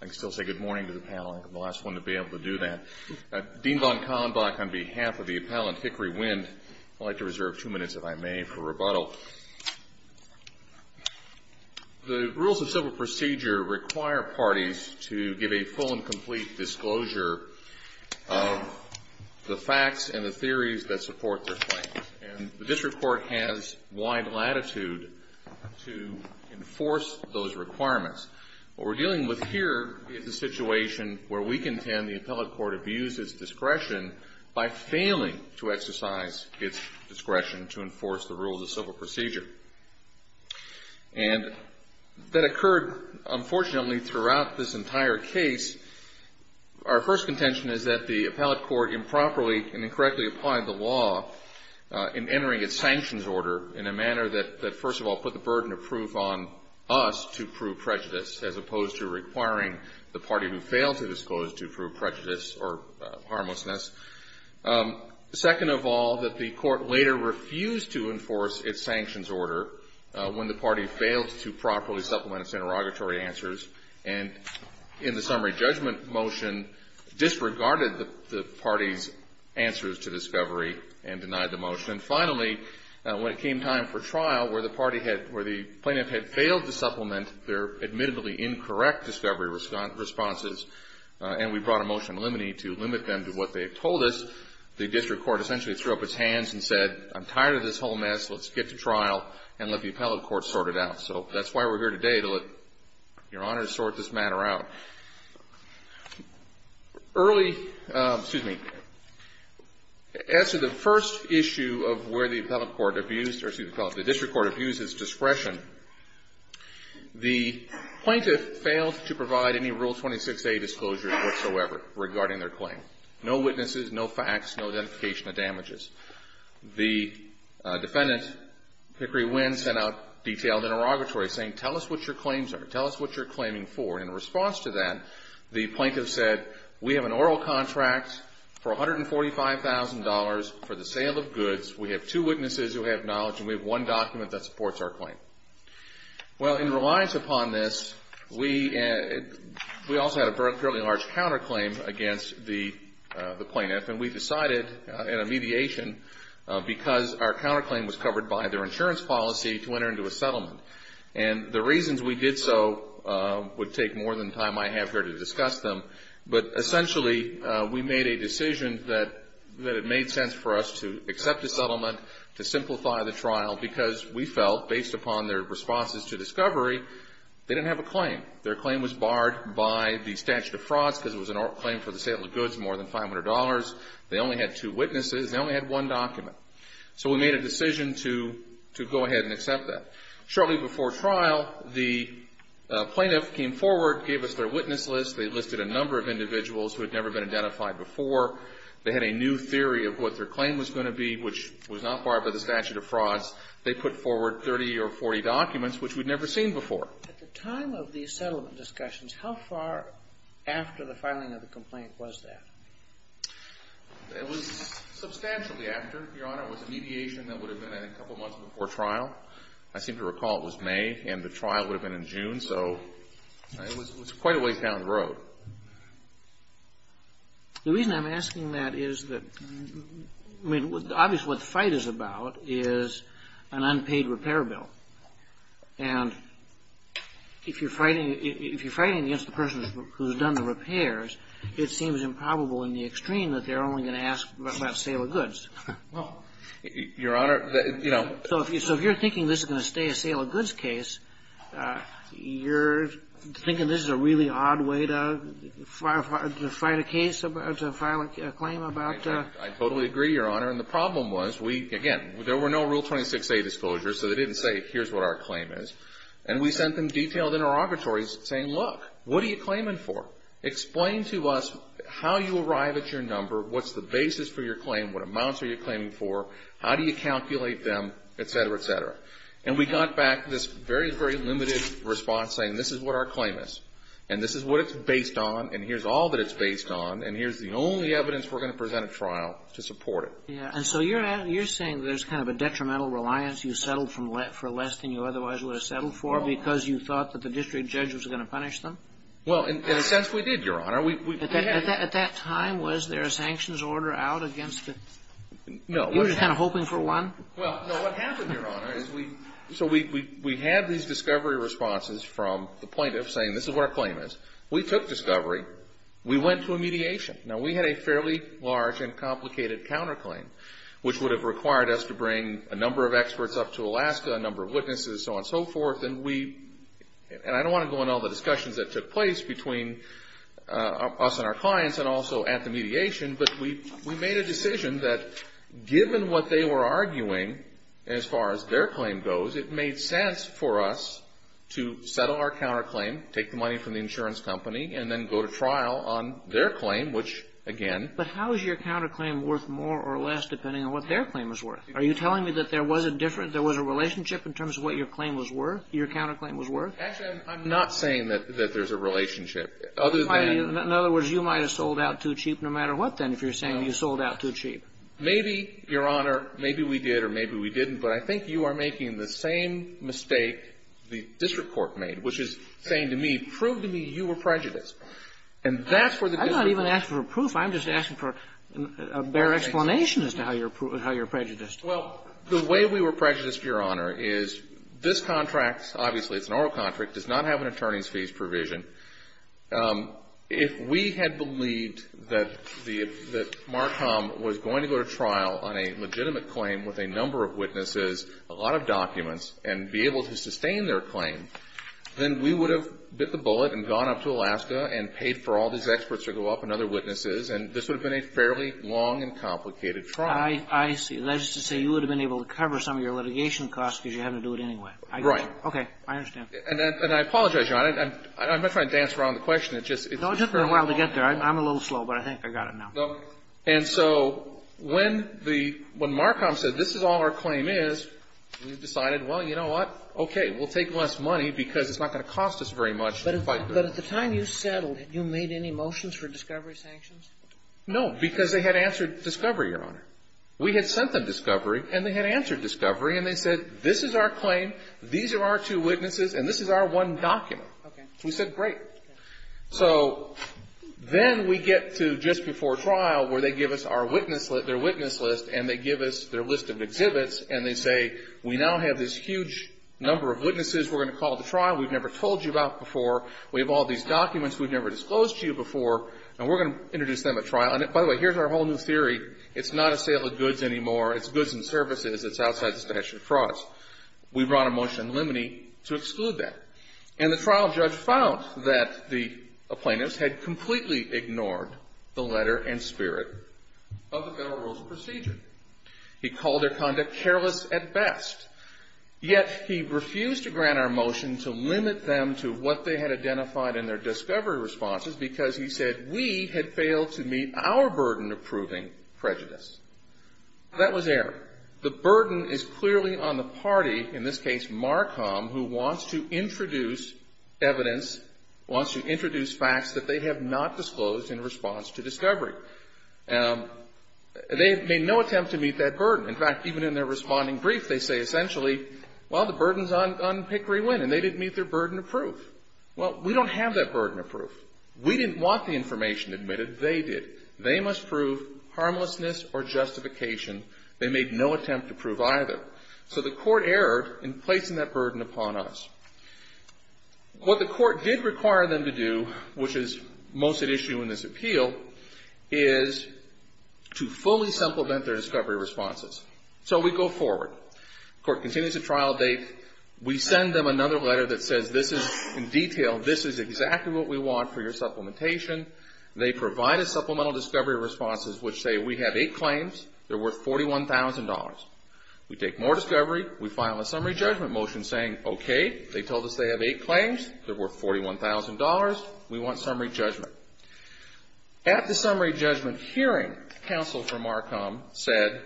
I can still say good morning to the panel. I think I'm the last one to be able to do that. Dean von Kallenbach, on behalf of the appellant Hickory Wind, I'd like to reserve two minutes, if I may, for rebuttal. The rules of civil procedure require parties to give a full and complete disclosure of the facts and the theories that support their claims. And the district court has wide latitude to enforce those requirements. What we're dealing with here is a situation where we contend the appellate court abused its discretion by failing to exercise its discretion to enforce the rules of civil procedure. And that occurred, unfortunately, throughout this entire case. Our first contention is that the appellate court improperly and incorrectly applied the law in entering its sanctions order in a manner that, first of all, put the burden of proof on us to prove prejudice, as opposed to requiring the party who failed to disclose to prove prejudice or harmlessness. Second of all, that the court later refused to enforce its sanctions order when the party failed to properly supplement its interrogatory answers, and in the summary judgment motion disregarded the party's answers to discovery and denied the motion. And finally, when it came time for trial, where the plaintiff had failed to supplement their admittedly incorrect discovery responses, and we brought a motion limiting it to limit them to what they had told us, the district court essentially threw up its hands and said, I'm tired of this whole mess. Let's get to trial and let the appellate court sort it out. So that's why we're here today, to let Your Honor sort this matter out. Early ‑‑ excuse me. As to the first issue of where the appellate court abused or, excuse me, the district court abused its discretion, the plaintiff failed to provide any Rule 26A disclosures whatsoever regarding their claim. No witnesses, no facts, no identification of damages. The defendant, Hickory Winn, sent out detailed interrogatory saying, tell us what your claims are. Tell us what you're claiming for. In response to that, the plaintiff said, we have an oral contract for $145,000 for the sale of goods. We have two witnesses who have knowledge, and we have one document that supports our claim. Well, in reliance upon this, we also had a fairly large counterclaim against the plaintiff, and we decided in a mediation, because our counterclaim was covered by their insurance policy, to enter into a settlement. And the reasons we did so would take more than the time I have here to discuss them, but essentially we made a decision that it made sense for us to accept the settlement, to simplify the trial, because we felt, based upon their responses to discovery, they didn't have a claim. Their claim was barred by the statute of frauds, because it was an oral claim for the sale of goods more than $500. They only had two witnesses. They only had one document. So we made a decision to go ahead and accept that. Shortly before trial, the plaintiff came forward, gave us their witness list. They listed a number of individuals who had never been identified before. They had a new theory of what their claim was going to be, which was not barred by the statute of frauds. They put forward 30 or 40 documents which we'd never seen before. At the time of these settlement discussions, how far after the filing of the complaint was that? It was substantially after, Your Honor. It was a mediation that would have been a couple months before trial. I seem to recall it was May, and the trial would have been in June. So it was quite a way down the road. The reason I'm asking that is that, I mean, obviously what the fight is about is an unpaid repair bill. And if you're fighting against the person who's done the repairs, it seems improbable in the extreme that they're only going to ask about sale of goods. Well, Your Honor, you know. So if you're thinking this is going to stay a sale of goods case, you're thinking this is a really odd way to fight a case, to file a claim about. I totally agree, Your Honor. And the problem was we, again, there were no Rule 26a disclosures, so they didn't say here's what our claim is. And we sent them detailed interrogatories saying, look, what are you claiming for? Explain to us how you arrive at your number, what's the basis for your claim, what amounts are you claiming for, how do you calculate them, et cetera, et cetera. And we got back this very, very limited response saying this is what our claim is, and this is what it's based on, and here's all that it's based on, and here's the only evidence we're going to present at trial to support it. Yeah. And so you're saying there's kind of a detrimental reliance you settled for less than you otherwise would have settled for because you thought that the district judge was going to punish them? Well, in a sense we did, Your Honor. At that time, was there a sanctions order out against it? No. You were just kind of hoping for one? Well, no. What happened, Your Honor, is we, so we had these discovery responses from the plaintiff saying this is what our claim is. We took discovery. We went to a mediation. Now, we had a fairly large and complicated counterclaim, which would have required us to bring a number of experts up to Alaska, a number of witnesses, so on and so forth, and we, and I don't want to go into all the discussions that took place between us and our clients and also at the mediation, but we made a decision that given what they were arguing, as far as their claim goes, it made sense for us to settle our counterclaim, take the money from the insurance company, and then go to trial on their claim, which, again. But how is your counterclaim worth more or less depending on what their claim is worth? Are you telling me that there was a different, there was a relationship in terms of what your claim was worth, your counterclaim was worth? Actually, I'm not saying that there's a relationship. In other words, you might have sold out too cheap no matter what, then, if you're saying you sold out too cheap. No. Maybe, Your Honor, maybe we did or maybe we didn't, but I think you are making the same mistake the district court made, which is saying to me, prove to me you were prejudiced. And that's where the difference is. I'm not even asking for proof. I'm just asking for a bare explanation as to how you're prejudiced. Well, the way we were prejudiced, Your Honor, is this contract, obviously it's an oral contract, does not have an attorney's fees provision. If we had believed that Marcom was going to go to trial on a legitimate claim with a number of witnesses, a lot of documents, and be able to sustain their claim, then we would have bit the bullet and gone up to Alaska and paid for all these experts to go up and other witnesses, and this would have been a fairly long and complicated trial. I see. That is to say you would have been able to cover some of your litigation costs because you had to do it anyway. Right. And I apologize, Your Honor. I'm not trying to dance around the question. It's just for a while to get there. I'm a little slow, but I think I got it now. Okay. And so when the – when Marcom said this is all our claim is, we decided, well, you know what, okay, we'll take less money because it's not going to cost us very much. But at the time you settled, you made any motions for discovery sanctions? No, because they had answered discovery, Your Honor. We had sent them discovery, and they had answered discovery, and they said this is our one document. Okay. We said great. So then we get to just before trial where they give us our witness – their witness list, and they give us their list of exhibits, and they say we now have this huge number of witnesses we're going to call to trial we've never told you about before. We have all these documents we've never disclosed to you before, and we're going to introduce them at trial. And, by the way, here's our whole new theory. It's not a sale of goods anymore. It's goods and services. It's outside the statute of frauds. We brought a motion in limine to exclude that. And the trial judge found that the plaintiffs had completely ignored the letter and spirit of the Federal Rules of Procedure. He called their conduct careless at best. Yet he refused to grant our motion to limit them to what they had identified in their discovery responses because he said we had failed to meet our burden of proving prejudice. That was error. The burden is clearly on the party, in this case Marcom, who wants to introduce evidence, wants to introduce facts that they have not disclosed in response to discovery. They have made no attempt to meet that burden. In fact, even in their responding brief, they say essentially, well, the burden is on Pickery Wynn, and they didn't meet their burden of proof. Well, we don't have that burden of proof. We didn't want the information admitted. They did. They must prove harmlessness or justification. They made no attempt to prove either. So the Court erred in placing that burden upon us. What the Court did require them to do, which is most at issue in this appeal, is to fully supplement their discovery responses. So we go forward. The Court continues the trial date. We send them another letter that says this is in detail. This is exactly what we want for your supplementation. They provide a supplemental discovery response, which say we have eight claims. They're worth $41,000. We take more discovery. We file a summary judgment motion saying, okay, they told us they have eight claims. They're worth $41,000. We want summary judgment. At the summary judgment hearing, counsel for Marcom said,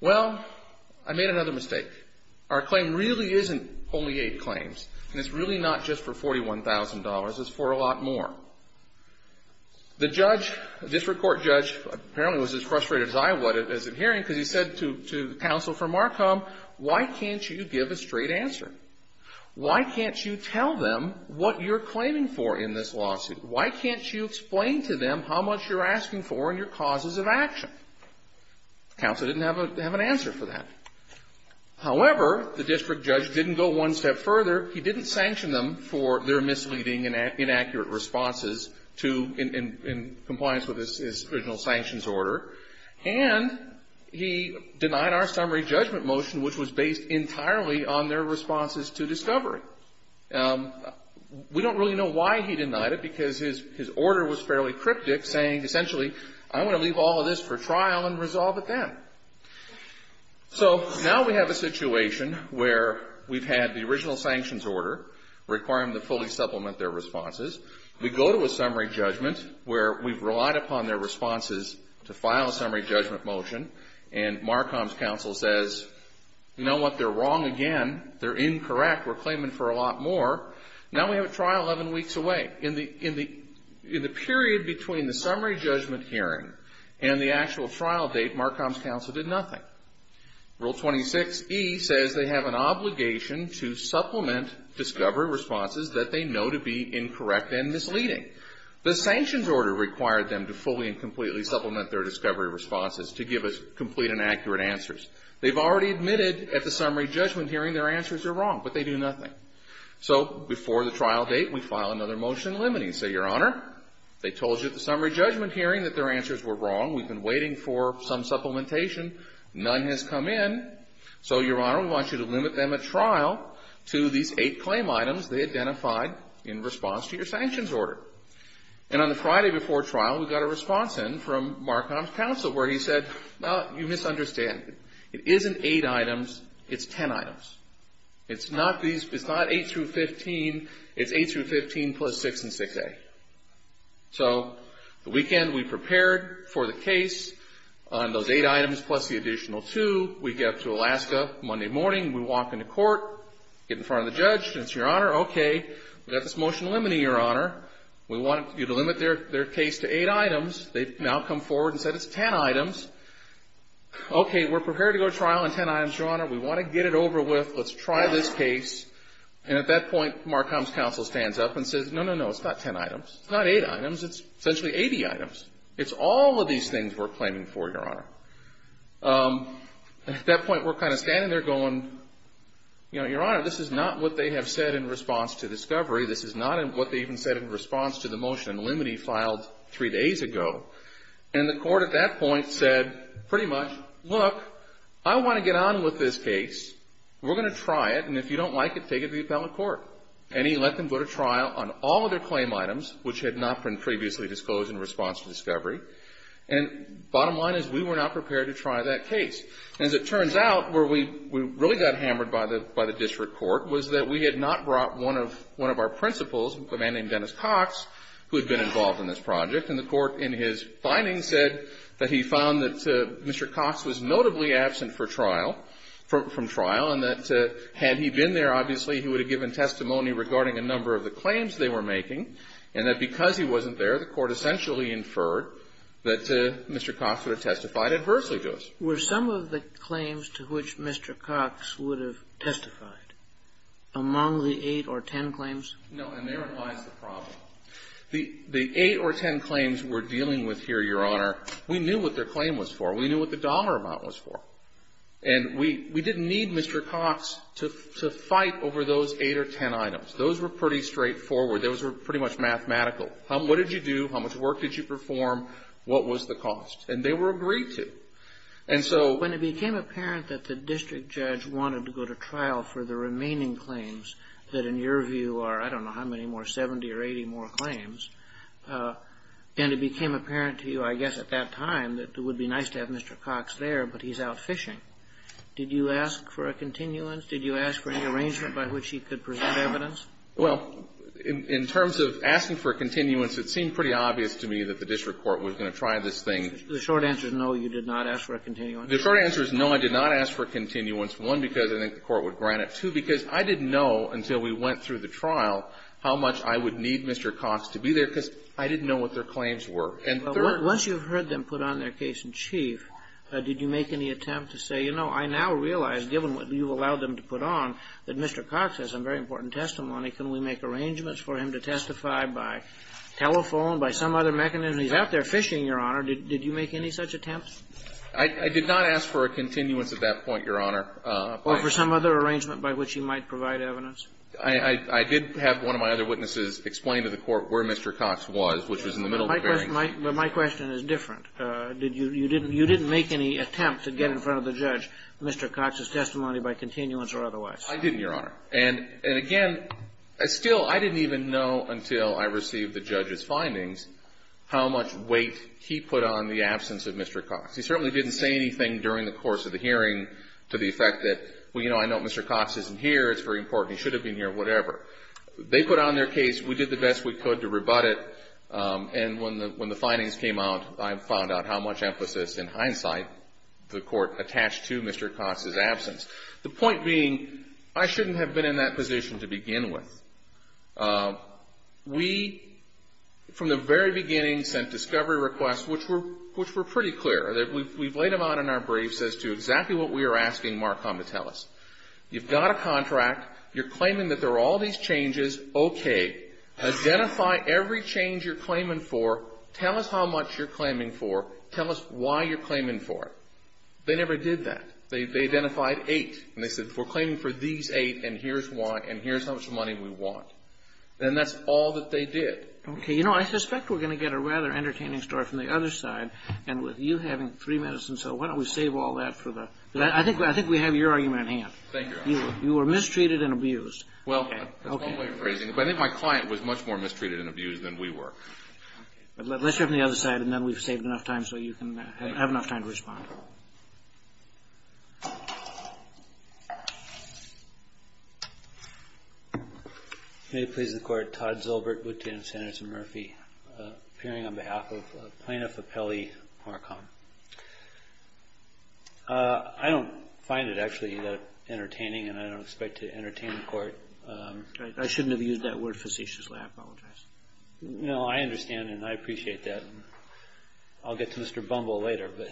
well, I made another mistake. Our claim really isn't only eight claims, and it's really not just for $41,000. It's for a lot more. The judge, the district court judge, apparently was as frustrated as I was at the hearing because he said to counsel for Marcom, why can't you give a straight answer? Why can't you tell them what you're claiming for in this lawsuit? Why can't you explain to them how much you're asking for and your causes of action? Counsel didn't have an answer for that. However, the district judge didn't go one step further. He didn't sanction them for their misleading and inaccurate responses to in compliance with his original sanctions order, and he denied our summary judgment motion, which was based entirely on their responses to discovery. We don't really know why he denied it because his order was fairly cryptic, saying essentially, I'm going to leave all of this for trial and resolve it then. So now we have a situation where we've had the original sanctions order require them to fully supplement their responses. We go to a summary judgment where we've relied upon their responses to file a summary judgment motion, and Marcom's counsel says, you know what? They're wrong again. They're incorrect. We're claiming for a lot more. Now we have a trial 11 weeks away. In the period between the summary judgment hearing and the actual trial date, Marcom's counsel did nothing. Rule 26E says they have an obligation to supplement discovery responses that they know to be incorrect and misleading. The sanctions order required them to fully and completely supplement their discovery responses to give us complete and accurate answers. They've already admitted at the summary judgment hearing their answers are wrong, but they do nothing. So before the trial date, we file another motion limiting. Say, Your Honor, they told you at the summary judgment hearing that their answers were wrong. We've been waiting for some supplementation. None has come in. So, Your Honor, we want you to limit them at trial to these eight claim items they identified in response to your sanctions order. And on the Friday before trial, we got a response in from Marcom's counsel where he said, well, you misunderstand. It isn't eight items. It's ten items. It's not eight through 15. It's eight through 15 plus 6 and 6A. So the weekend we prepared for the case on those eight items plus the additional two, we get up to Alaska Monday morning. We walk into court, get in front of the judge, and say, Your Honor, okay, we've got this motion limiting, Your Honor. We want you to limit their case to eight items. They've now come forward and said it's ten items. Okay, we're prepared to go to trial on ten items, Your Honor. We want to get it over with. Let's try this case. And at that point, Marcom's counsel stands up and says, no, no, no, it's not ten items. It's not eight items. It's essentially 80 items. It's all of these things we're claiming for, Your Honor. At that point, we're kind of standing there going, you know, Your Honor, this is not what they have said in response to discovery. This is not what they even said in response to the motion limiting filed three days ago. And the court at that point said pretty much, look, I want to get on with this case. We're going to try it, and if you don't like it, take it to the appellate court. And he let them go to trial on all of their claim items, which had not been previously disclosed in response to discovery. And bottom line is we were not prepared to try that case. As it turns out, where we really got hammered by the district court was that we had not brought one of our principals, a man named Dennis Cox, who had been involved in this project. And the court in his findings said that he found that Mr. Cox was notably absent for trial, from trial, and that had he been there, obviously, he would have given testimony regarding a number of the claims they were making, and that because he wasn't there, the court essentially inferred that Mr. Cox would have testified adversely to us. Kagan. Were some of the claims to which Mr. Cox would have testified among the eight or ten claims? No, and therein lies the problem. The eight or ten claims we're dealing with here, Your Honor, we knew what their claim was for. We knew what the dollar amount was for. And we didn't need Mr. Cox to fight over those eight or ten items. Those were pretty straightforward. Those were pretty much mathematical. What did you do? How much work did you perform? What was the cost? And they were agreed to. And so when it became apparent that the district judge wanted to go to trial for the remaining claims, that in your view are, I don't know how many more, 70 or 80 more claims, and it became apparent to you, I guess, at that time that it would be nice to have Mr. Cox there, but he's out fishing, did you ask for a continuance? Did you ask for any arrangement by which he could present evidence? Well, in terms of asking for a continuance, it seemed pretty obvious to me that the district court was going to try this thing. The short answer is no, you did not ask for a continuance. The short answer is no, I did not ask for a continuance, one, because I think the court would grant it, two, because I didn't know until we went through the trial how much I would need Mr. Cox to be there, because I didn't know what their claims were. And third ---- Well, once you've heard them put on their case in chief, did you make any attempt to say, you know, I now realize, given what you've allowed them to put on, that Mr. Cox has some very important testimony. Can we make arrangements for him to testify by telephone, by some other mechanism? He's out there fishing, Your Honor. Did you make any such attempts? I did not ask for a continuance at that point, Your Honor. Or for some other arrangement by which he might provide evidence? I did have one of my other witnesses explain to the court where Mr. Cox was, which was in the middle of the hearing. But my question is different. You didn't make any attempt to get in front of the judge Mr. Cox's testimony by continuance or otherwise? I didn't, Your Honor. And again, still, I didn't even know until I received the judge's findings how much weight he put on the absence of Mr. Cox. He certainly didn't say anything during the course of the hearing to the effect that, well, you know, I know Mr. Cox isn't here. It's very important. He should have been here, whatever. They put on their case. We did the best we could to rebut it. And when the findings came out, I found out how much emphasis, in hindsight, the court attached to Mr. Cox's absence. The point being, I shouldn't have been in that position to begin with. We, from the very beginning, sent discovery requests which were pretty clear. We've laid them out in our briefs as to exactly what we were asking Marcom to tell us. You've got a contract. You're claiming that there are all these changes. Okay. Identify every change you're claiming for. Tell us how much you're claiming for. Tell us why you're claiming for it. They never did that. They identified eight. And they said, We're claiming for these eight, and here's how much money we want. And that's all that they did. Okay. You know, I suspect we're going to get a rather entertaining story from the other side, and with you having three medicines, so why don't we save all that for the I think we have your argument at hand. Thank you, Your Honor. You were mistreated and abused. Well, that's one way of phrasing it, but I think my client was much more mistreated and abused than we were. Let's hear it from the other side, and then we've saved enough time so you can have enough time to respond. May it please the Court. Todd Zilbert, Lieutenant Senator Murphy, appearing on behalf of Plaintiff Appellee Marcon. I don't find it actually entertaining, and I don't expect to entertain the Court. I shouldn't have used that word facetiously. I apologize. No, I understand, and I appreciate that. I'll get to Mr. Bumble later, but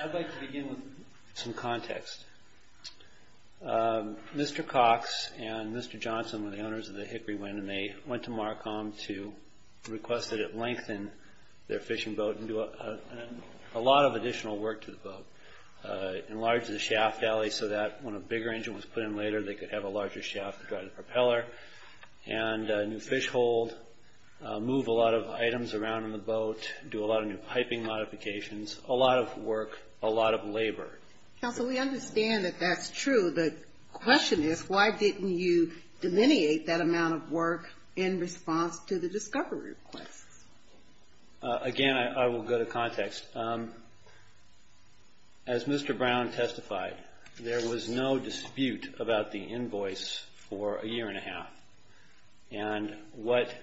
I'd like to begin with some context. Mr. Cox and Mr. Johnson were the owners of the Hickory Wind, and they went to Marcom to request that it lengthen their fishing boat and do a lot of additional work to the boat, enlarge the shaft alley so that when a bigger engine was put in later, they could have a larger shaft to drive the propeller, and a new fish hold, move a lot of items around in the boat, do a lot of new piping modifications, a lot of work, a lot of labor. Counsel, we understand that that's true. The question is, why didn't you dominate that amount of work in response to the discovery requests? Again, I will go to context. As Mr. Brown testified, there was no dispute about the invoice for a year and a half, and what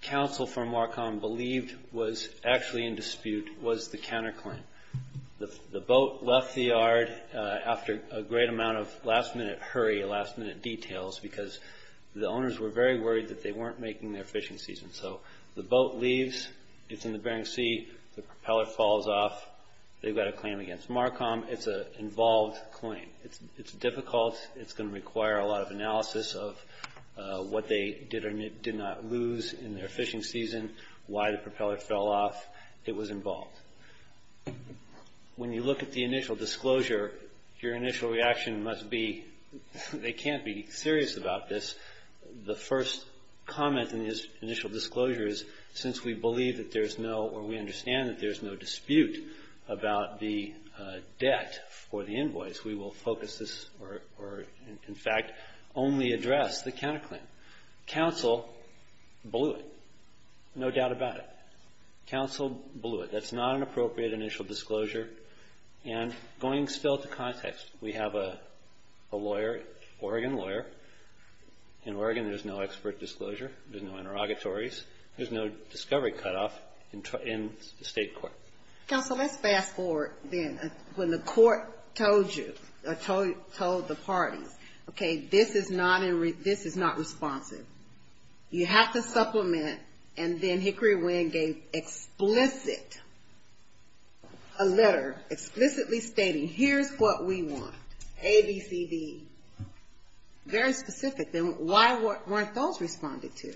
counsel from Marcom believed was actually in dispute was the counterclaim. The boat left the yard after a great amount of last-minute hurry, last-minute details, because the owners were very worried that they weren't making their fishing season. The boat leaves, it's in the Bering Sea, the propeller falls off, they've got a claim against Marcom, it's an involved claim. It's difficult, it's going to require a lot of analysis of what they did or did not lose in their fishing season, why the propeller fell off, it was involved. When you look at the initial disclosure, your initial reaction must be, they can't be serious about this. The first comment in this initial disclosure is, since we believe that there's no, or we understand that there's no dispute about the debt for the invoice, we will focus this, or in fact, only address the counterclaim. Counsel blew it, no doubt about it. Counsel blew it. That's not an appropriate initial disclosure. And going still to context, we have a lawyer, Oregon lawyer. In Oregon, there's no expert disclosure, there's no interrogatories, there's no discovery cutoff in the State court. Counsel, let's fast forward then. When the court told you, or told the parties, okay, this is not responsive. You have to supplement, and then Hickory Winn gave explicit, a letter explicitly stating, here's what we want, A, B, C, D. Very specific, then why weren't those responded to?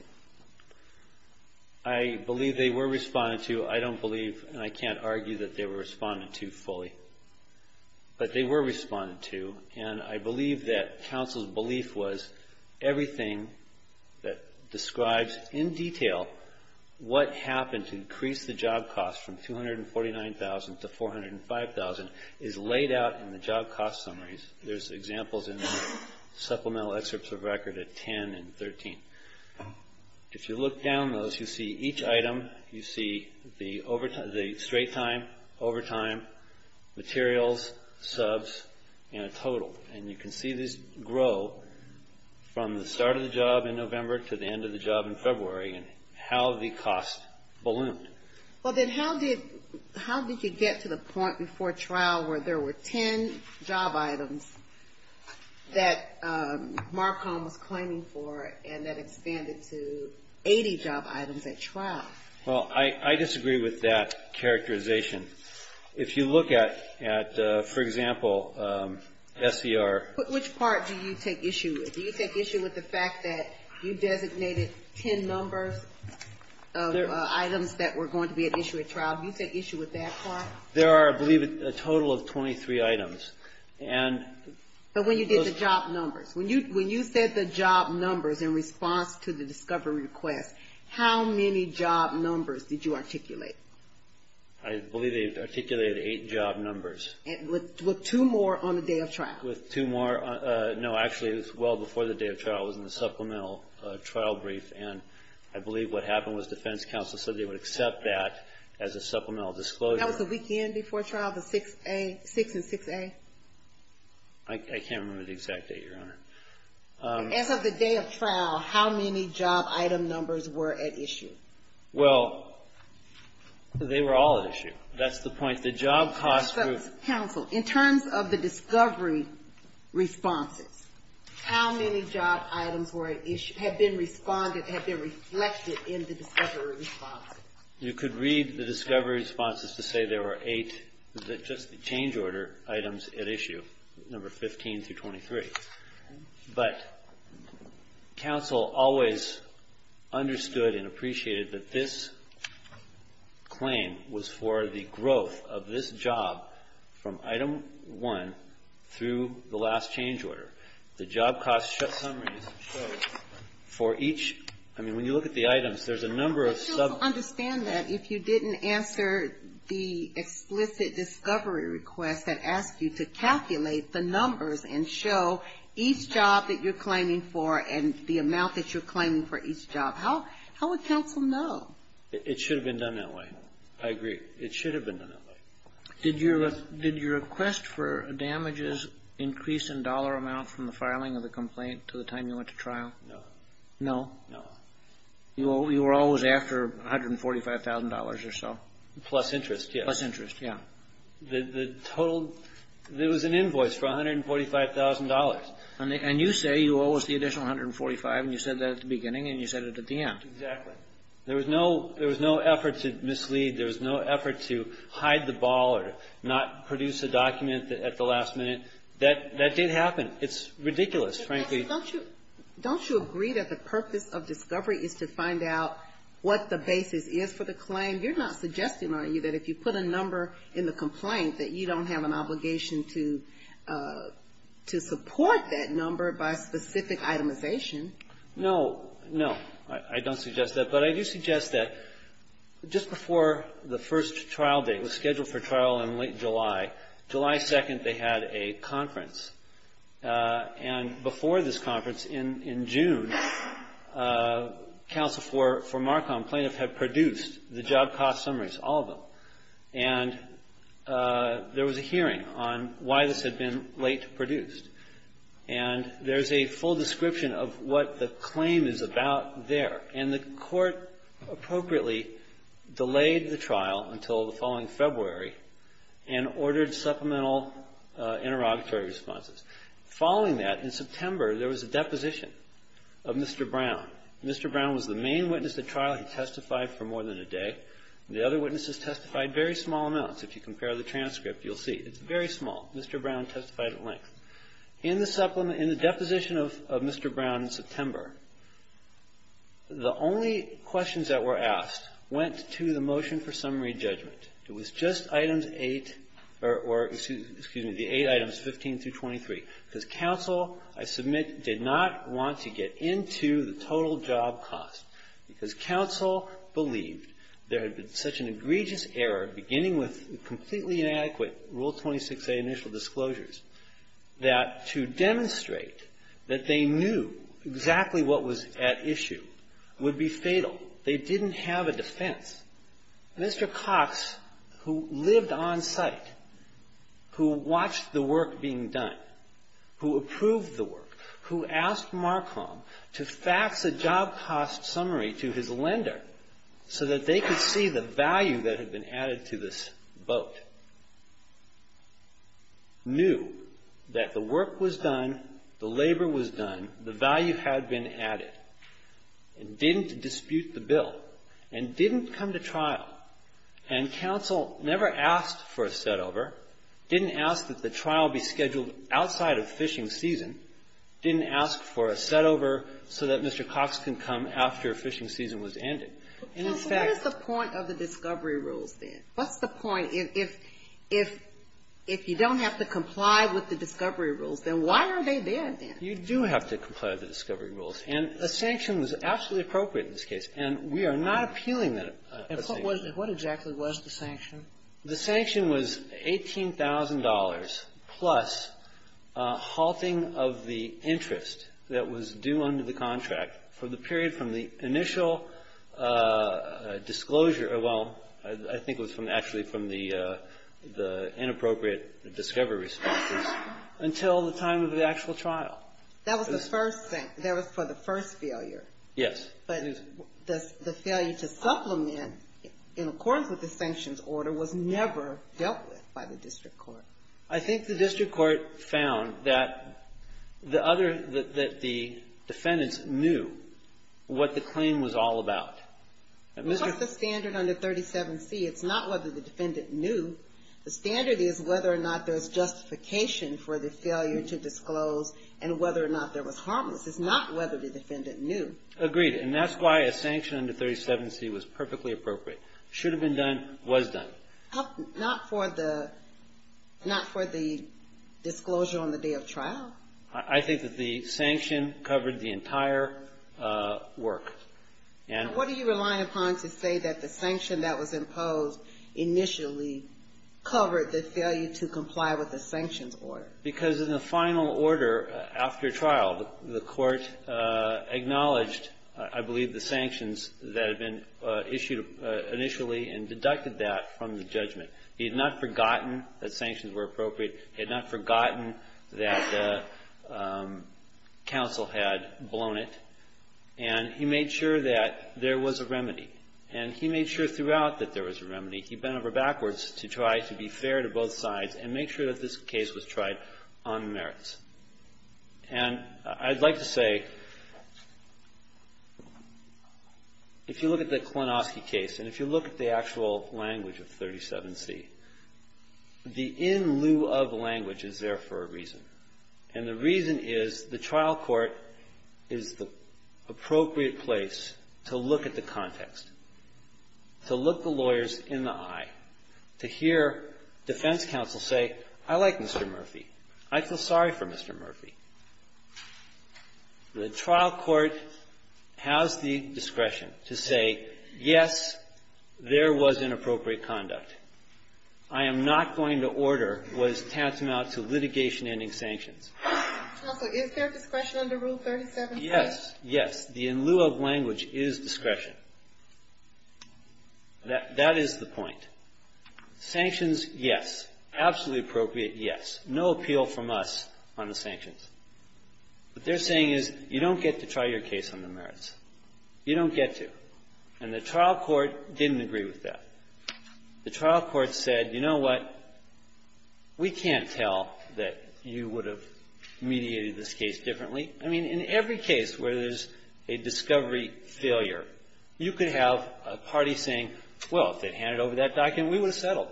I believe they were responded to. I don't believe, and I can't argue that they were responded to fully. But they were responded to, and I believe that counsel's belief was everything that describes in detail what happened to increase the job cost from $249,000 to $405,000 is laid out in the job cost summaries. There's examples in supplemental excerpts of record at 10 and 13. If you look down those, you see each item, you see the straight time, overtime, materials, subs, and a total. And you can see this grow from the start of the job in November to the end of the job in February, and how the cost ballooned. Well, then how did you get to the point before trial where there were 10 job items that Marcom was claiming for and that expanded to 80 job items at trial? Well, I disagree with that characterization. If you look at, for example, SCR. Which part do you take issue with? Do you take issue with the fact that you designated 10 numbers of items that were going to be at issue at trial? Do you take issue with that part? There are, I believe, a total of 23 items. But when you did the job numbers. When you said the job numbers in response to the discovery request, how many job numbers did you articulate? I believe they articulated eight job numbers. With two more on the day of trial. With two more. No, actually it was well before the day of trial. It was in the supplemental trial brief. And I believe what happened was defense counsel said they would accept that as a supplemental disclosure. That was the weekend before trial? The 6A? 6 and 6A? I can't remember the exact date, Your Honor. As of the day of trial, how many job item numbers were at issue? Well, they were all at issue. That's the point. The job cost group. Defense counsel, in terms of the discovery responses, how many job items were at issue have been responded, have been reflected in the discovery responses? You could read the discovery responses to say there were eight, just the change order items at issue, number 15 through 23. But counsel always understood and appreciated that this claim was for the growth of this job from item one through the last change order. The job cost summary shows for each, I mean, when you look at the items, there's a number of sub. But you'll understand that if you didn't answer the explicit discovery request that asked you to calculate the numbers and show each job that you're claiming for and the amount that you're claiming for each job. How would counsel know? It should have been done that way. I agree. It should have been done that way. Did your request for damages increase in dollar amount from the filing of the complaint to the time you went to trial? No. No? No. You were always after $145,000 or so? Plus interest, yeah. Plus interest, yeah. The total, there was an invoice for $145,000. And you say you owe us the additional $145,000 and you said that at the beginning and you said it at the end. Exactly. There was no effort to mislead. There was no effort to hide the ball or not produce a document at the last minute. That did happen. It's ridiculous, frankly. Don't you agree that the purpose of discovery is to find out what the basis is for the claim? You're not suggesting, are you, that if you put a number in the complaint that you don't have an obligation to support that number by specific itemization? No. No. I don't suggest that. But I do suggest that just before the first trial date, it was scheduled for trial in late July, July 2nd they had a conference. And before this conference, in June, counsel for Marcom, plaintiff, had produced the job cost summaries, all of them. And there was a hearing on why this had been late to produce. And there's a full description of what the claim is about there. And the court appropriately delayed the trial until the following February and ordered supplemental interrogatory responses. Following that, in September, there was a deposition of Mr. Brown. Mr. Brown was the main witness at trial. He testified for more than a day. The other witnesses testified very small amounts. If you compare the transcript, you'll see. It's very small. Mr. Brown testified at length. In the supplement, in the deposition of Mr. Brown in September, the only questions that were asked went to the motion for summary judgment. It was just items 8 or, excuse me, the eight items 15 through 23. Because counsel, I submit, did not want to get into the total job cost. Because counsel believed there had been such an egregious error, beginning with completely inadequate Rule 26a initial disclosures. That to demonstrate that they knew exactly what was at issue would be fatal. They didn't have a defense. Mr. Cox, who lived on site, who watched the work being done, who approved the work, who asked Marcom to fax a job cost summary to his lender so that they could see the value that had been added to this boat, knew that the work was done, the labor was done, the value had been added, and didn't dispute the bill, and didn't come to trial. And counsel never asked for a setover, didn't ask that the trial be scheduled outside of fishing season, didn't ask for a setover so that Mr. Cox can come after fishing season was ended. And in fact the point of the discovery rules, then? What's the point if you don't have to comply with the discovery rules? Then why are they there, then? You do have to comply with the discovery rules. And a sanction was absolutely appropriate in this case. And we are not appealing that. But what exactly was the sanction? The sanction was $18,000 plus halting of the interest that was due under the contract for the period from the initial disclosure, well, I think it was actually from the inappropriate discovery responses, until the time of the actual trial. That was the first thing. That was for the first failure. Yes. But the failure to supplement in accordance with the sanctions order was never dealt with by the district court. I think the district court found that the other, that the defendants knew what the claim was all about. It's not the standard under 37C. It's not whether the defendant knew. The standard is whether or not there's justification for the failure to disclose and whether or not there was harmless. It's not whether the defendant knew. Agreed. And that's why a sanction under 37C was perfectly appropriate. Should have been done, was done. Not for the, not for the disclosure on the day of trial? I think that the sanction covered the entire work. And what do you rely upon to say that the sanction that was imposed initially covered the failure to comply with the sanctions order? Because in the final order after trial, the court acknowledged, I believe, the sanctions that had been issued initially and deducted that from the judgment. He had not forgotten that sanctions were appropriate. He had not forgotten that counsel had blown it. And he made sure that there was a remedy. And he made sure throughout that there was a remedy. He bent over backwards to try to be fair to both sides and make sure that this case was tried on merits. And I'd like to say, if you look at the Klonoski case and if you look at the actual language of 37C, the in lieu of language is there for a reason. And the reason is the trial court is the appropriate place to look at the context, to look the lawyers in the eye, to hear defense counsel say, I like Mr. Murphy. I feel sorry for Mr. Murphy. The trial court has the discretion to say, yes, there was inappropriate conduct. I am not going to order what is tantamount to litigation ending sanctions. Counsel, is there discretion under Rule 37C? Yes. Yes. The in lieu of language is discretion. That is the point. Sanctions, yes. Absolutely appropriate, yes. No appeal from us on the sanctions. What they're saying is you don't get to try your case on the merits. You don't get to. And the trial court didn't agree with that. The trial court said, you know what, we can't tell that you would have mediated this case differently. I mean, in every case where there's a discovery failure, you could have a party saying, well, if they'd handed over that document, we would have settled.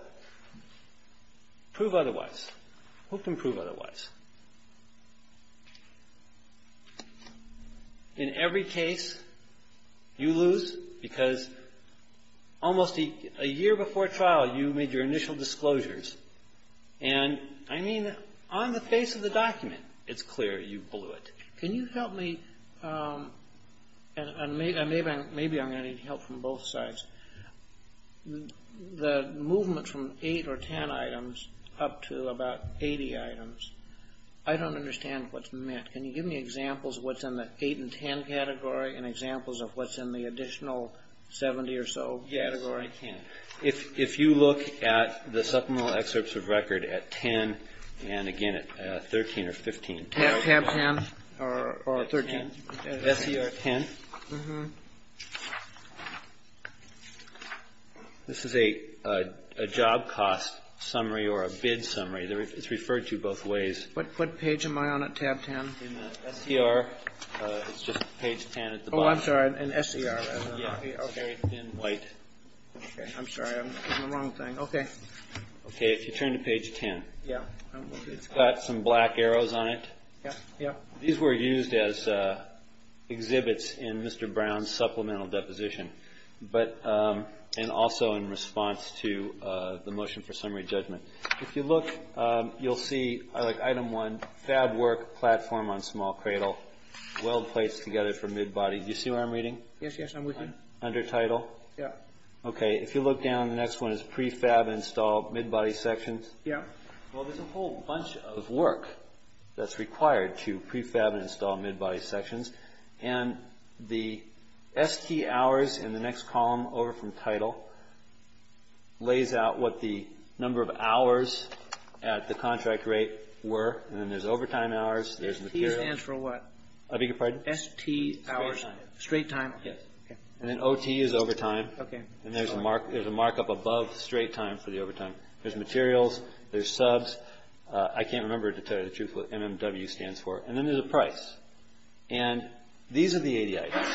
Prove otherwise. Who can prove otherwise? In every case, you lose because almost a year before trial, you made your initial disclosures. And I mean, on the face of the document, it's clear you blew it. Can you help me? And maybe I'm going to need help from both sides. The movement from 8 or 10 items up to about 80 items, I don't understand what's meant. Can you give me examples of what's in the 8 and 10 category and examples of what's in the additional 70 or so category? Yes, I can. If you look at the supplemental excerpts of record at 10 and, again, at 13 or 15. Tab 10 or 13. Tab 10. This is a job cost summary or a bid summary. It's referred to both ways. What page am I on at tab 10? In the SER, it's just page 10 at the bottom. Oh, I'm sorry. In SER. It's very thin white. I'm sorry. I'm doing the wrong thing. Okay. Okay, if you turn to page 10. It's got some black arrows on it. These were used as exhibits in Mr. Brown's supplemental deposition and also in response to the motion for summary judgment. If you look, you'll see item 1, fab work platform on small cradle, weld plates together for mid-body. Do you see what I'm reading? Yes, yes, I'm reading. Under title? Yes. Okay, if you look down, the next one is prefab install mid-body sections. Yes. Well, there's a whole bunch of work that's required to prefab and install mid-body sections. And the ST hours in the next column over from title lays out what the number of hours at the contract rate were. And then there's overtime hours. There's materials. ST stands for what? I beg your pardon? ST hours. Straight time. Yes. And then OT is overtime. Okay. And there's a markup above straight time for the overtime. There's materials. There's subs. I can't remember to tell you the truth what MMW stands for. And then there's a price. And these are the ADA items.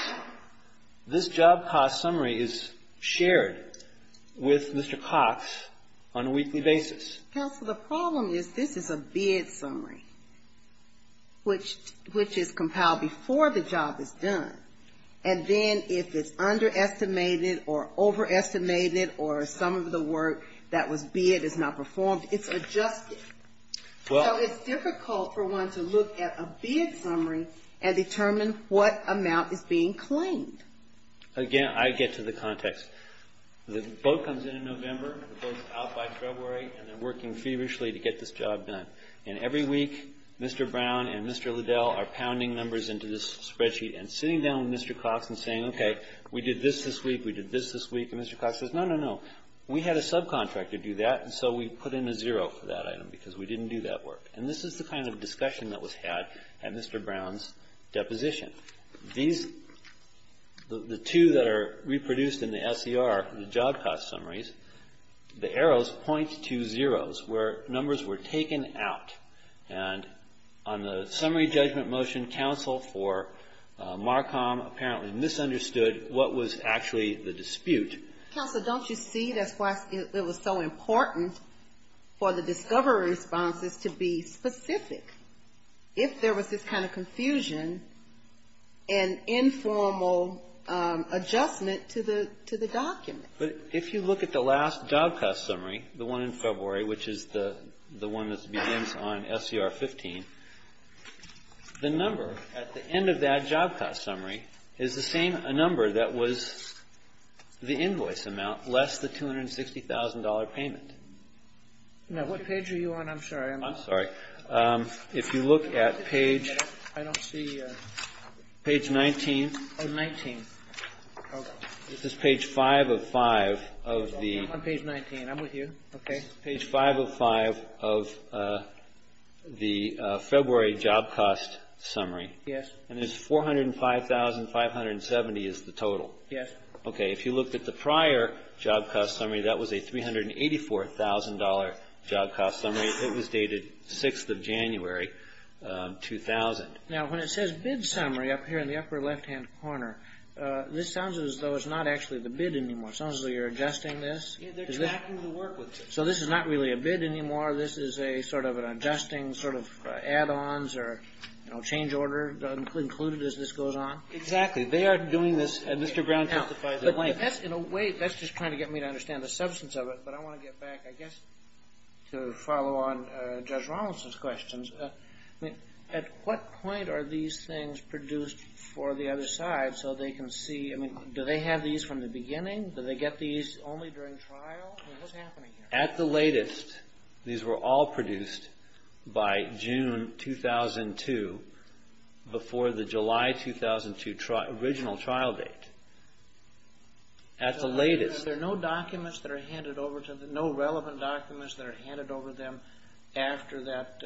This job cost summary is shared with Mr. Cox on a weekly basis. Counsel, the problem is this is a bid summary, which is compiled before the job is done. And then if it's underestimated or overestimated or some of the work that was bid is not performed, it's adjusted. So it's difficult for one to look at a bid summary and determine what amount is being claimed. Again, I get to the context. The boat comes in in November, the boat's out by February, and they're working feverishly to get this job done. And every week, Mr. Brown and Mr. Liddell are pounding numbers into this spreadsheet and sitting down with Mr. Cox and saying, okay, we did this this week, we did this this week. And Mr. Cox says, no, no, no, we had a subcontractor do that, and so we put in a zero for that item because we didn't do that work. And this is the kind of discussion that was had at Mr. Brown's deposition. These, the two that are reproduced in the SER, the job cost summaries, the arrows point to zeros where numbers were taken out. And on the summary judgment motion, counsel for Marcom apparently misunderstood what was actually the dispute. Counsel, don't you see that's why it was so important for the discovery responses to be specific? If there was this kind of confusion, an informal adjustment to the document. But if you look at the last job cost summary, the one in February, which is the one that begins on SER 15, the number at the end of that job cost summary is the same number that was the invoice amount, less the $260,000 payment. Now, what page are you on? I'm sorry. If you look at page 19, this is page 5 of 5 of the February job cost summary, and there's 405,570 is the total. Yes. Okay. If you looked at the prior job cost summary, that was a $384,000 job cost summary. It was dated 6th of January, 2000. Now, when it says bid summary up here in the upper left-hand corner, this sounds as though it's not actually the bid anymore. It sounds as though you're adjusting this. They're tracking the work with it. So this is not really a bid anymore. This is a sort of an adjusting sort of add-ons or, you know, change order included as this goes on? Exactly. They are doing this, and Mr. Brown justified their length. Now, in a way, that's just trying to get me to understand the substance of it, but I want to get back, I guess, to follow on Judge Rollinson's questions. I mean, at what point are these things produced for the other side so they can see? I mean, do they have these from the beginning? Do they get these only during trial? I mean, what's happening here? At the latest, these were all produced by June 2002 before the July 2002 original trial date. At the latest. There are no documents that are handed over to them, no relevant documents that are handed over to them after that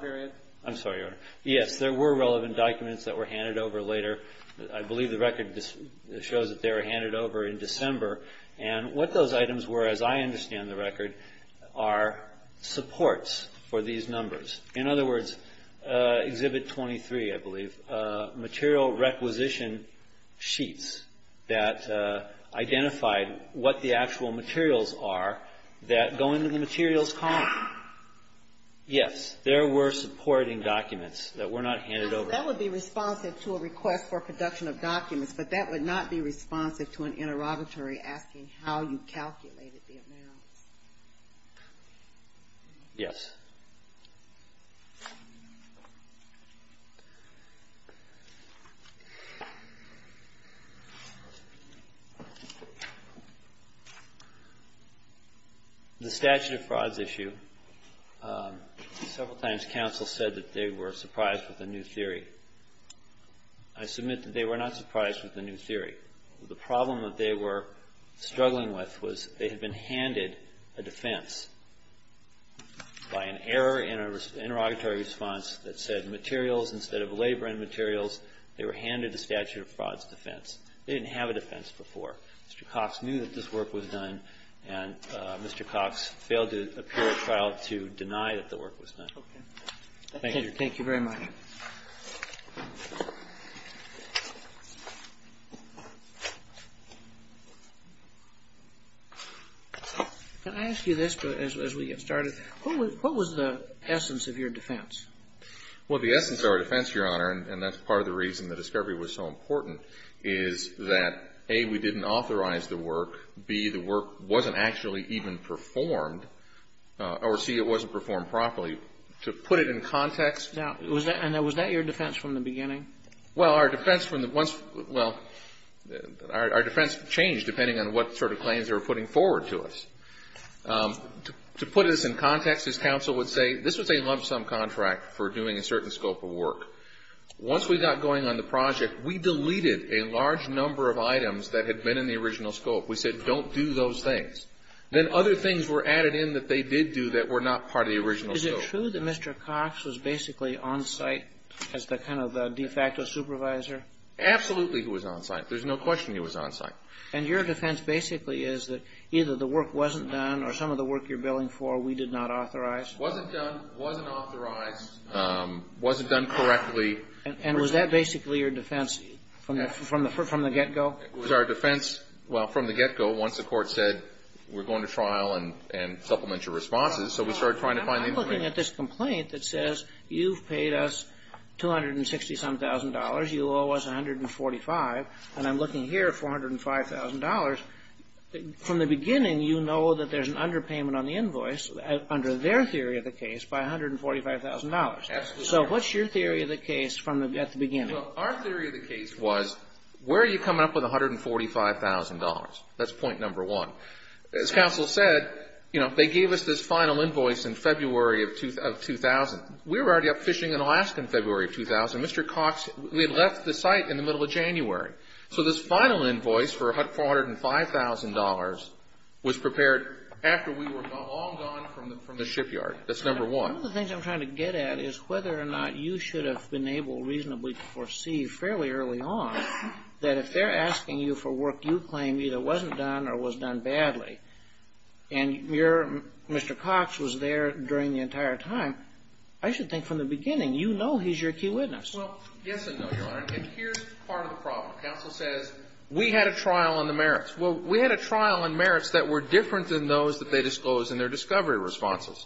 period? I'm sorry, Your Honor. Yes, there were relevant documents that were handed over later. I believe the record shows that they were handed over in December. And what those items were, as I understand the record, are supports for these numbers. In other words, Exhibit 23, I believe, material requisition sheets that identified what the actual materials are that go into the materials column. Yes, there were supporting documents that were not handed over. That would be responsive to a request for production of documents, but that would not be responsive to an interrogatory asking how you calculated the amounts. Yes. The statute of frauds issue, several times counsel said that they were surprised with a new theory. I submit that they were not surprised with a new theory. The problem that they were struggling with was they had been handed a defense by an error in an interrogatory response that said materials instead of labor and materials, they were handed a statute of frauds defense. They didn't have a defense before. Mr. Cox knew that this work was done, and Mr. Cox failed to appear at trial to deny that the work was done. Thank you. Thank you very much. Thank you. Can I ask you this as we get started? What was the essence of your defense? Well, the essence of our defense, Your Honor, and that's part of the reason the discovery was so important, is that A, we didn't authorize the work, B, the work wasn't actually even performed, or C, it wasn't performed properly. To put it in context. And was that your defense from the beginning? Well, our defense from the once well, our defense changed depending on what sort of claims they were putting forward to us. To put this in context, as counsel would say, this was a lump sum contract for doing a certain scope of work. Once we got going on the project, we deleted a large number of items that had been in the original scope. We said don't do those things. Then other things were added in that they did do that were not part of the original scope. Is it true that Mr. Cox was basically on-site as the kind of de facto supervisor? Absolutely he was on-site. There's no question he was on-site. And your defense basically is that either the work wasn't done or some of the work you're billing for we did not authorize? Wasn't done, wasn't authorized, wasn't done correctly. And was that basically your defense from the get-go? It was our defense, well, from the get-go once the court said we're going to trial and supplement your responses. So we started trying to find the information. I'm looking at this complaint that says you've paid us $267,000. You owe us $145,000. And I'm looking here at $405,000. From the beginning, you know that there's an underpayment on the invoice under their theory of the case by $145,000. Absolutely. So what's your theory of the case from the beginning? Well, our theory of the case was where are you coming up with $145,000? That's point number one. As counsel said, you know, they gave us this final invoice in February of 2000. We were already up fishing in Alaska in February of 2000. Mr. Cox, we had left the site in the middle of January. So this final invoice for $405,000 was prepared after we were all gone from the shipyard. That's number one. One of the things I'm trying to get at is whether or not you should have been able reasonably to foresee fairly early on that if they're asking you for work you claim either wasn't done or was done badly and your Mr. Cox was there during the entire time, I should think from the beginning you know he's your key witness. Well, yes and no, Your Honor. And here's part of the problem. Counsel says we had a trial on the merits. Well, we had a trial on merits that were different than those that they disclosed in their discovery responses.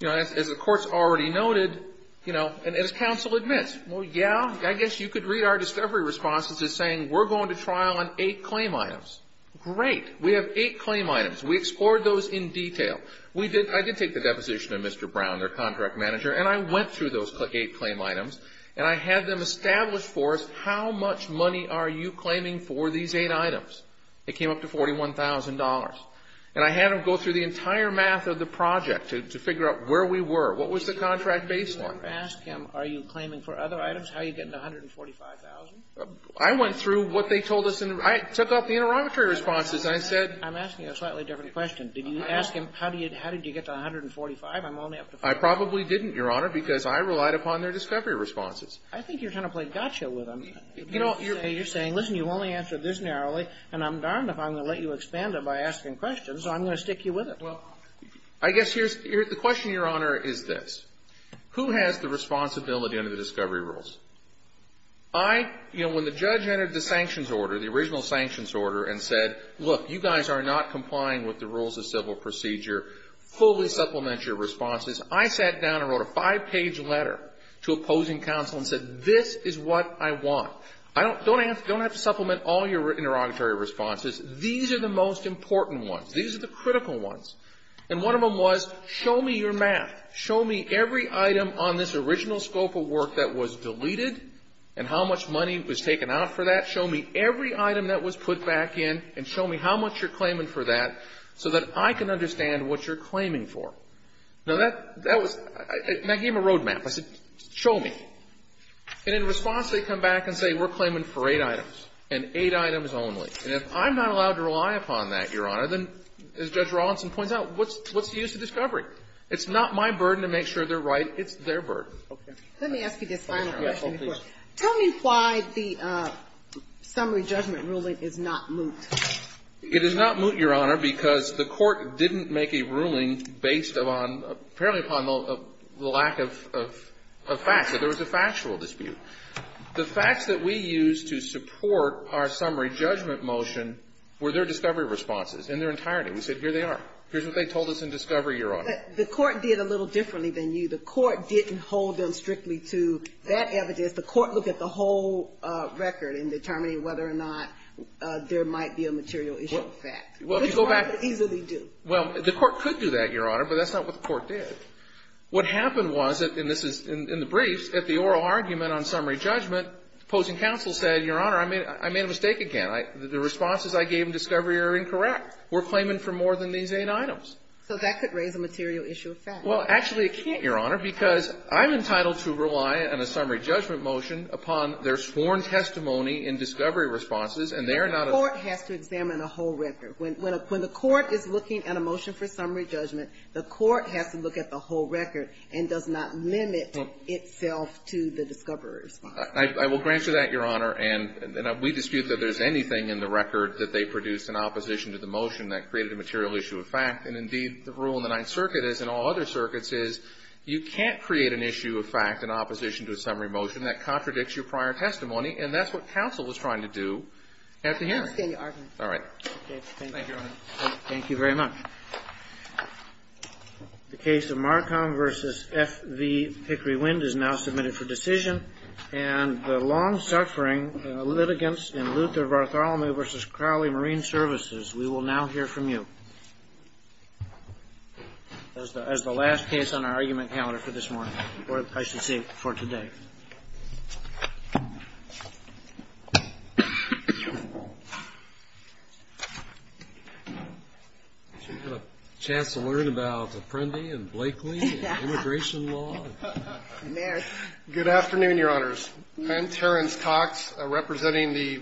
You know, as the Court's already noted, you know, and as counsel admits, well, yeah, I guess you could read our discovery responses as saying we're going to trial on eight claim items. Great. We have eight claim items. We explored those in detail. I did take the deposition of Mr. Brown, their contract manager, and I went through those eight claim items and I had them establish for us how much money are you claiming for these eight items. It came up to $41,000. And I had them go through the entire math of the project to figure out where we were. What was the contract baseline? Did you ever ask him are you claiming for other items? How are you getting the $145,000? I went through what they told us. I took out the interrogatory responses and I said. I'm asking you a slightly different question. Did you ask him how did you get to $145,000? I'm only up to $40,000. I probably didn't, Your Honor, because I relied upon their discovery responses. I think you're trying to play gotcha with them. You're saying, listen, you've only answered this narrowly and I'm darned if I'm going to let you expand it by asking questions, so I'm going to stick you with it. Well, I guess the question, Your Honor, is this. Who has the responsibility under the discovery rules? I, you know, when the judge entered the sanctions order, the original sanctions order and said, look, you guys are not complying with the rules of civil procedure. Fully supplement your responses. I sat down and wrote a five-page letter to opposing counsel and said this is what I want. Don't have to supplement all your interrogatory responses. These are the most important ones. These are the critical ones. And one of them was show me your math. Show me every item on this original scope of work that was deleted and how much money was taken out for that. Show me every item that was put back in and show me how much you're claiming for that so that I can understand what you're claiming for. Now, that was my game of roadmap. I said show me. And in response, they come back and say we're claiming for eight items and eight items only. And if I'm not allowed to rely upon that, Your Honor, then, as Judge Rawlinson points out, what's the use of discovery? It's not my burden to make sure they're right. It's their burden. Okay. Let me ask you this final question, Your Honor. Yes, please. Tell me why the summary judgment ruling is not moot. It is not moot, Your Honor, because the Court didn't make a ruling based upon, apparently upon the lack of facts, that there was a factual dispute. The facts that we used to support our summary judgment motion were their discovery responses in their entirety. We said here they are. Here's what they told us in discovery, Your Honor. But the Court did a little differently than you. The Court didn't hold them strictly to that evidence. The Court looked at the whole record in determining whether or not there might be a material issue of fact. Which the Court could easily do. Well, the Court could do that, Your Honor, but that's not what the Court did. What happened was, and this is in the briefs, at the oral argument on summary judgment, opposing counsel said, Your Honor, I made a mistake again. The responses I gave in discovery are incorrect. We're claiming for more than these eight items. So that could raise a material issue of fact. Well, actually it can't, Your Honor, because I'm entitled to rely on a summary judgment motion upon their sworn testimony in discovery responses, and they are not a ---- But the Court has to examine the whole record. When the Court is looking at a motion for summary judgment, the Court has to look at the whole record and does not limit itself to the discovery response. I will grant you that, Your Honor. And we dispute that there's anything in the record that they produced in opposition to the motion that created a material issue of fact. And indeed, the rule in the Ninth Circuit is, and all other circuits is, you can't create an issue of fact in opposition to a summary motion that contradicts your prior testimony, and that's what counsel was trying to do at the hearing. All right. Thank you, Your Honor. Thank you very much. The case of Marcom v. F. V. Pickery Wind is now submitted for decision. And the long-suffering litigants in Luther Bartholomew v. Crowley Marine Services, we will now hear from you as the last case on our argument calendar for this morning or I should say for today. Do you have a chance to learn about Apprendi and Blakely and immigration law? Yes. Good afternoon, Your Honors. I'm Terrence Cox, representing the Pennsylvania Department of Justice.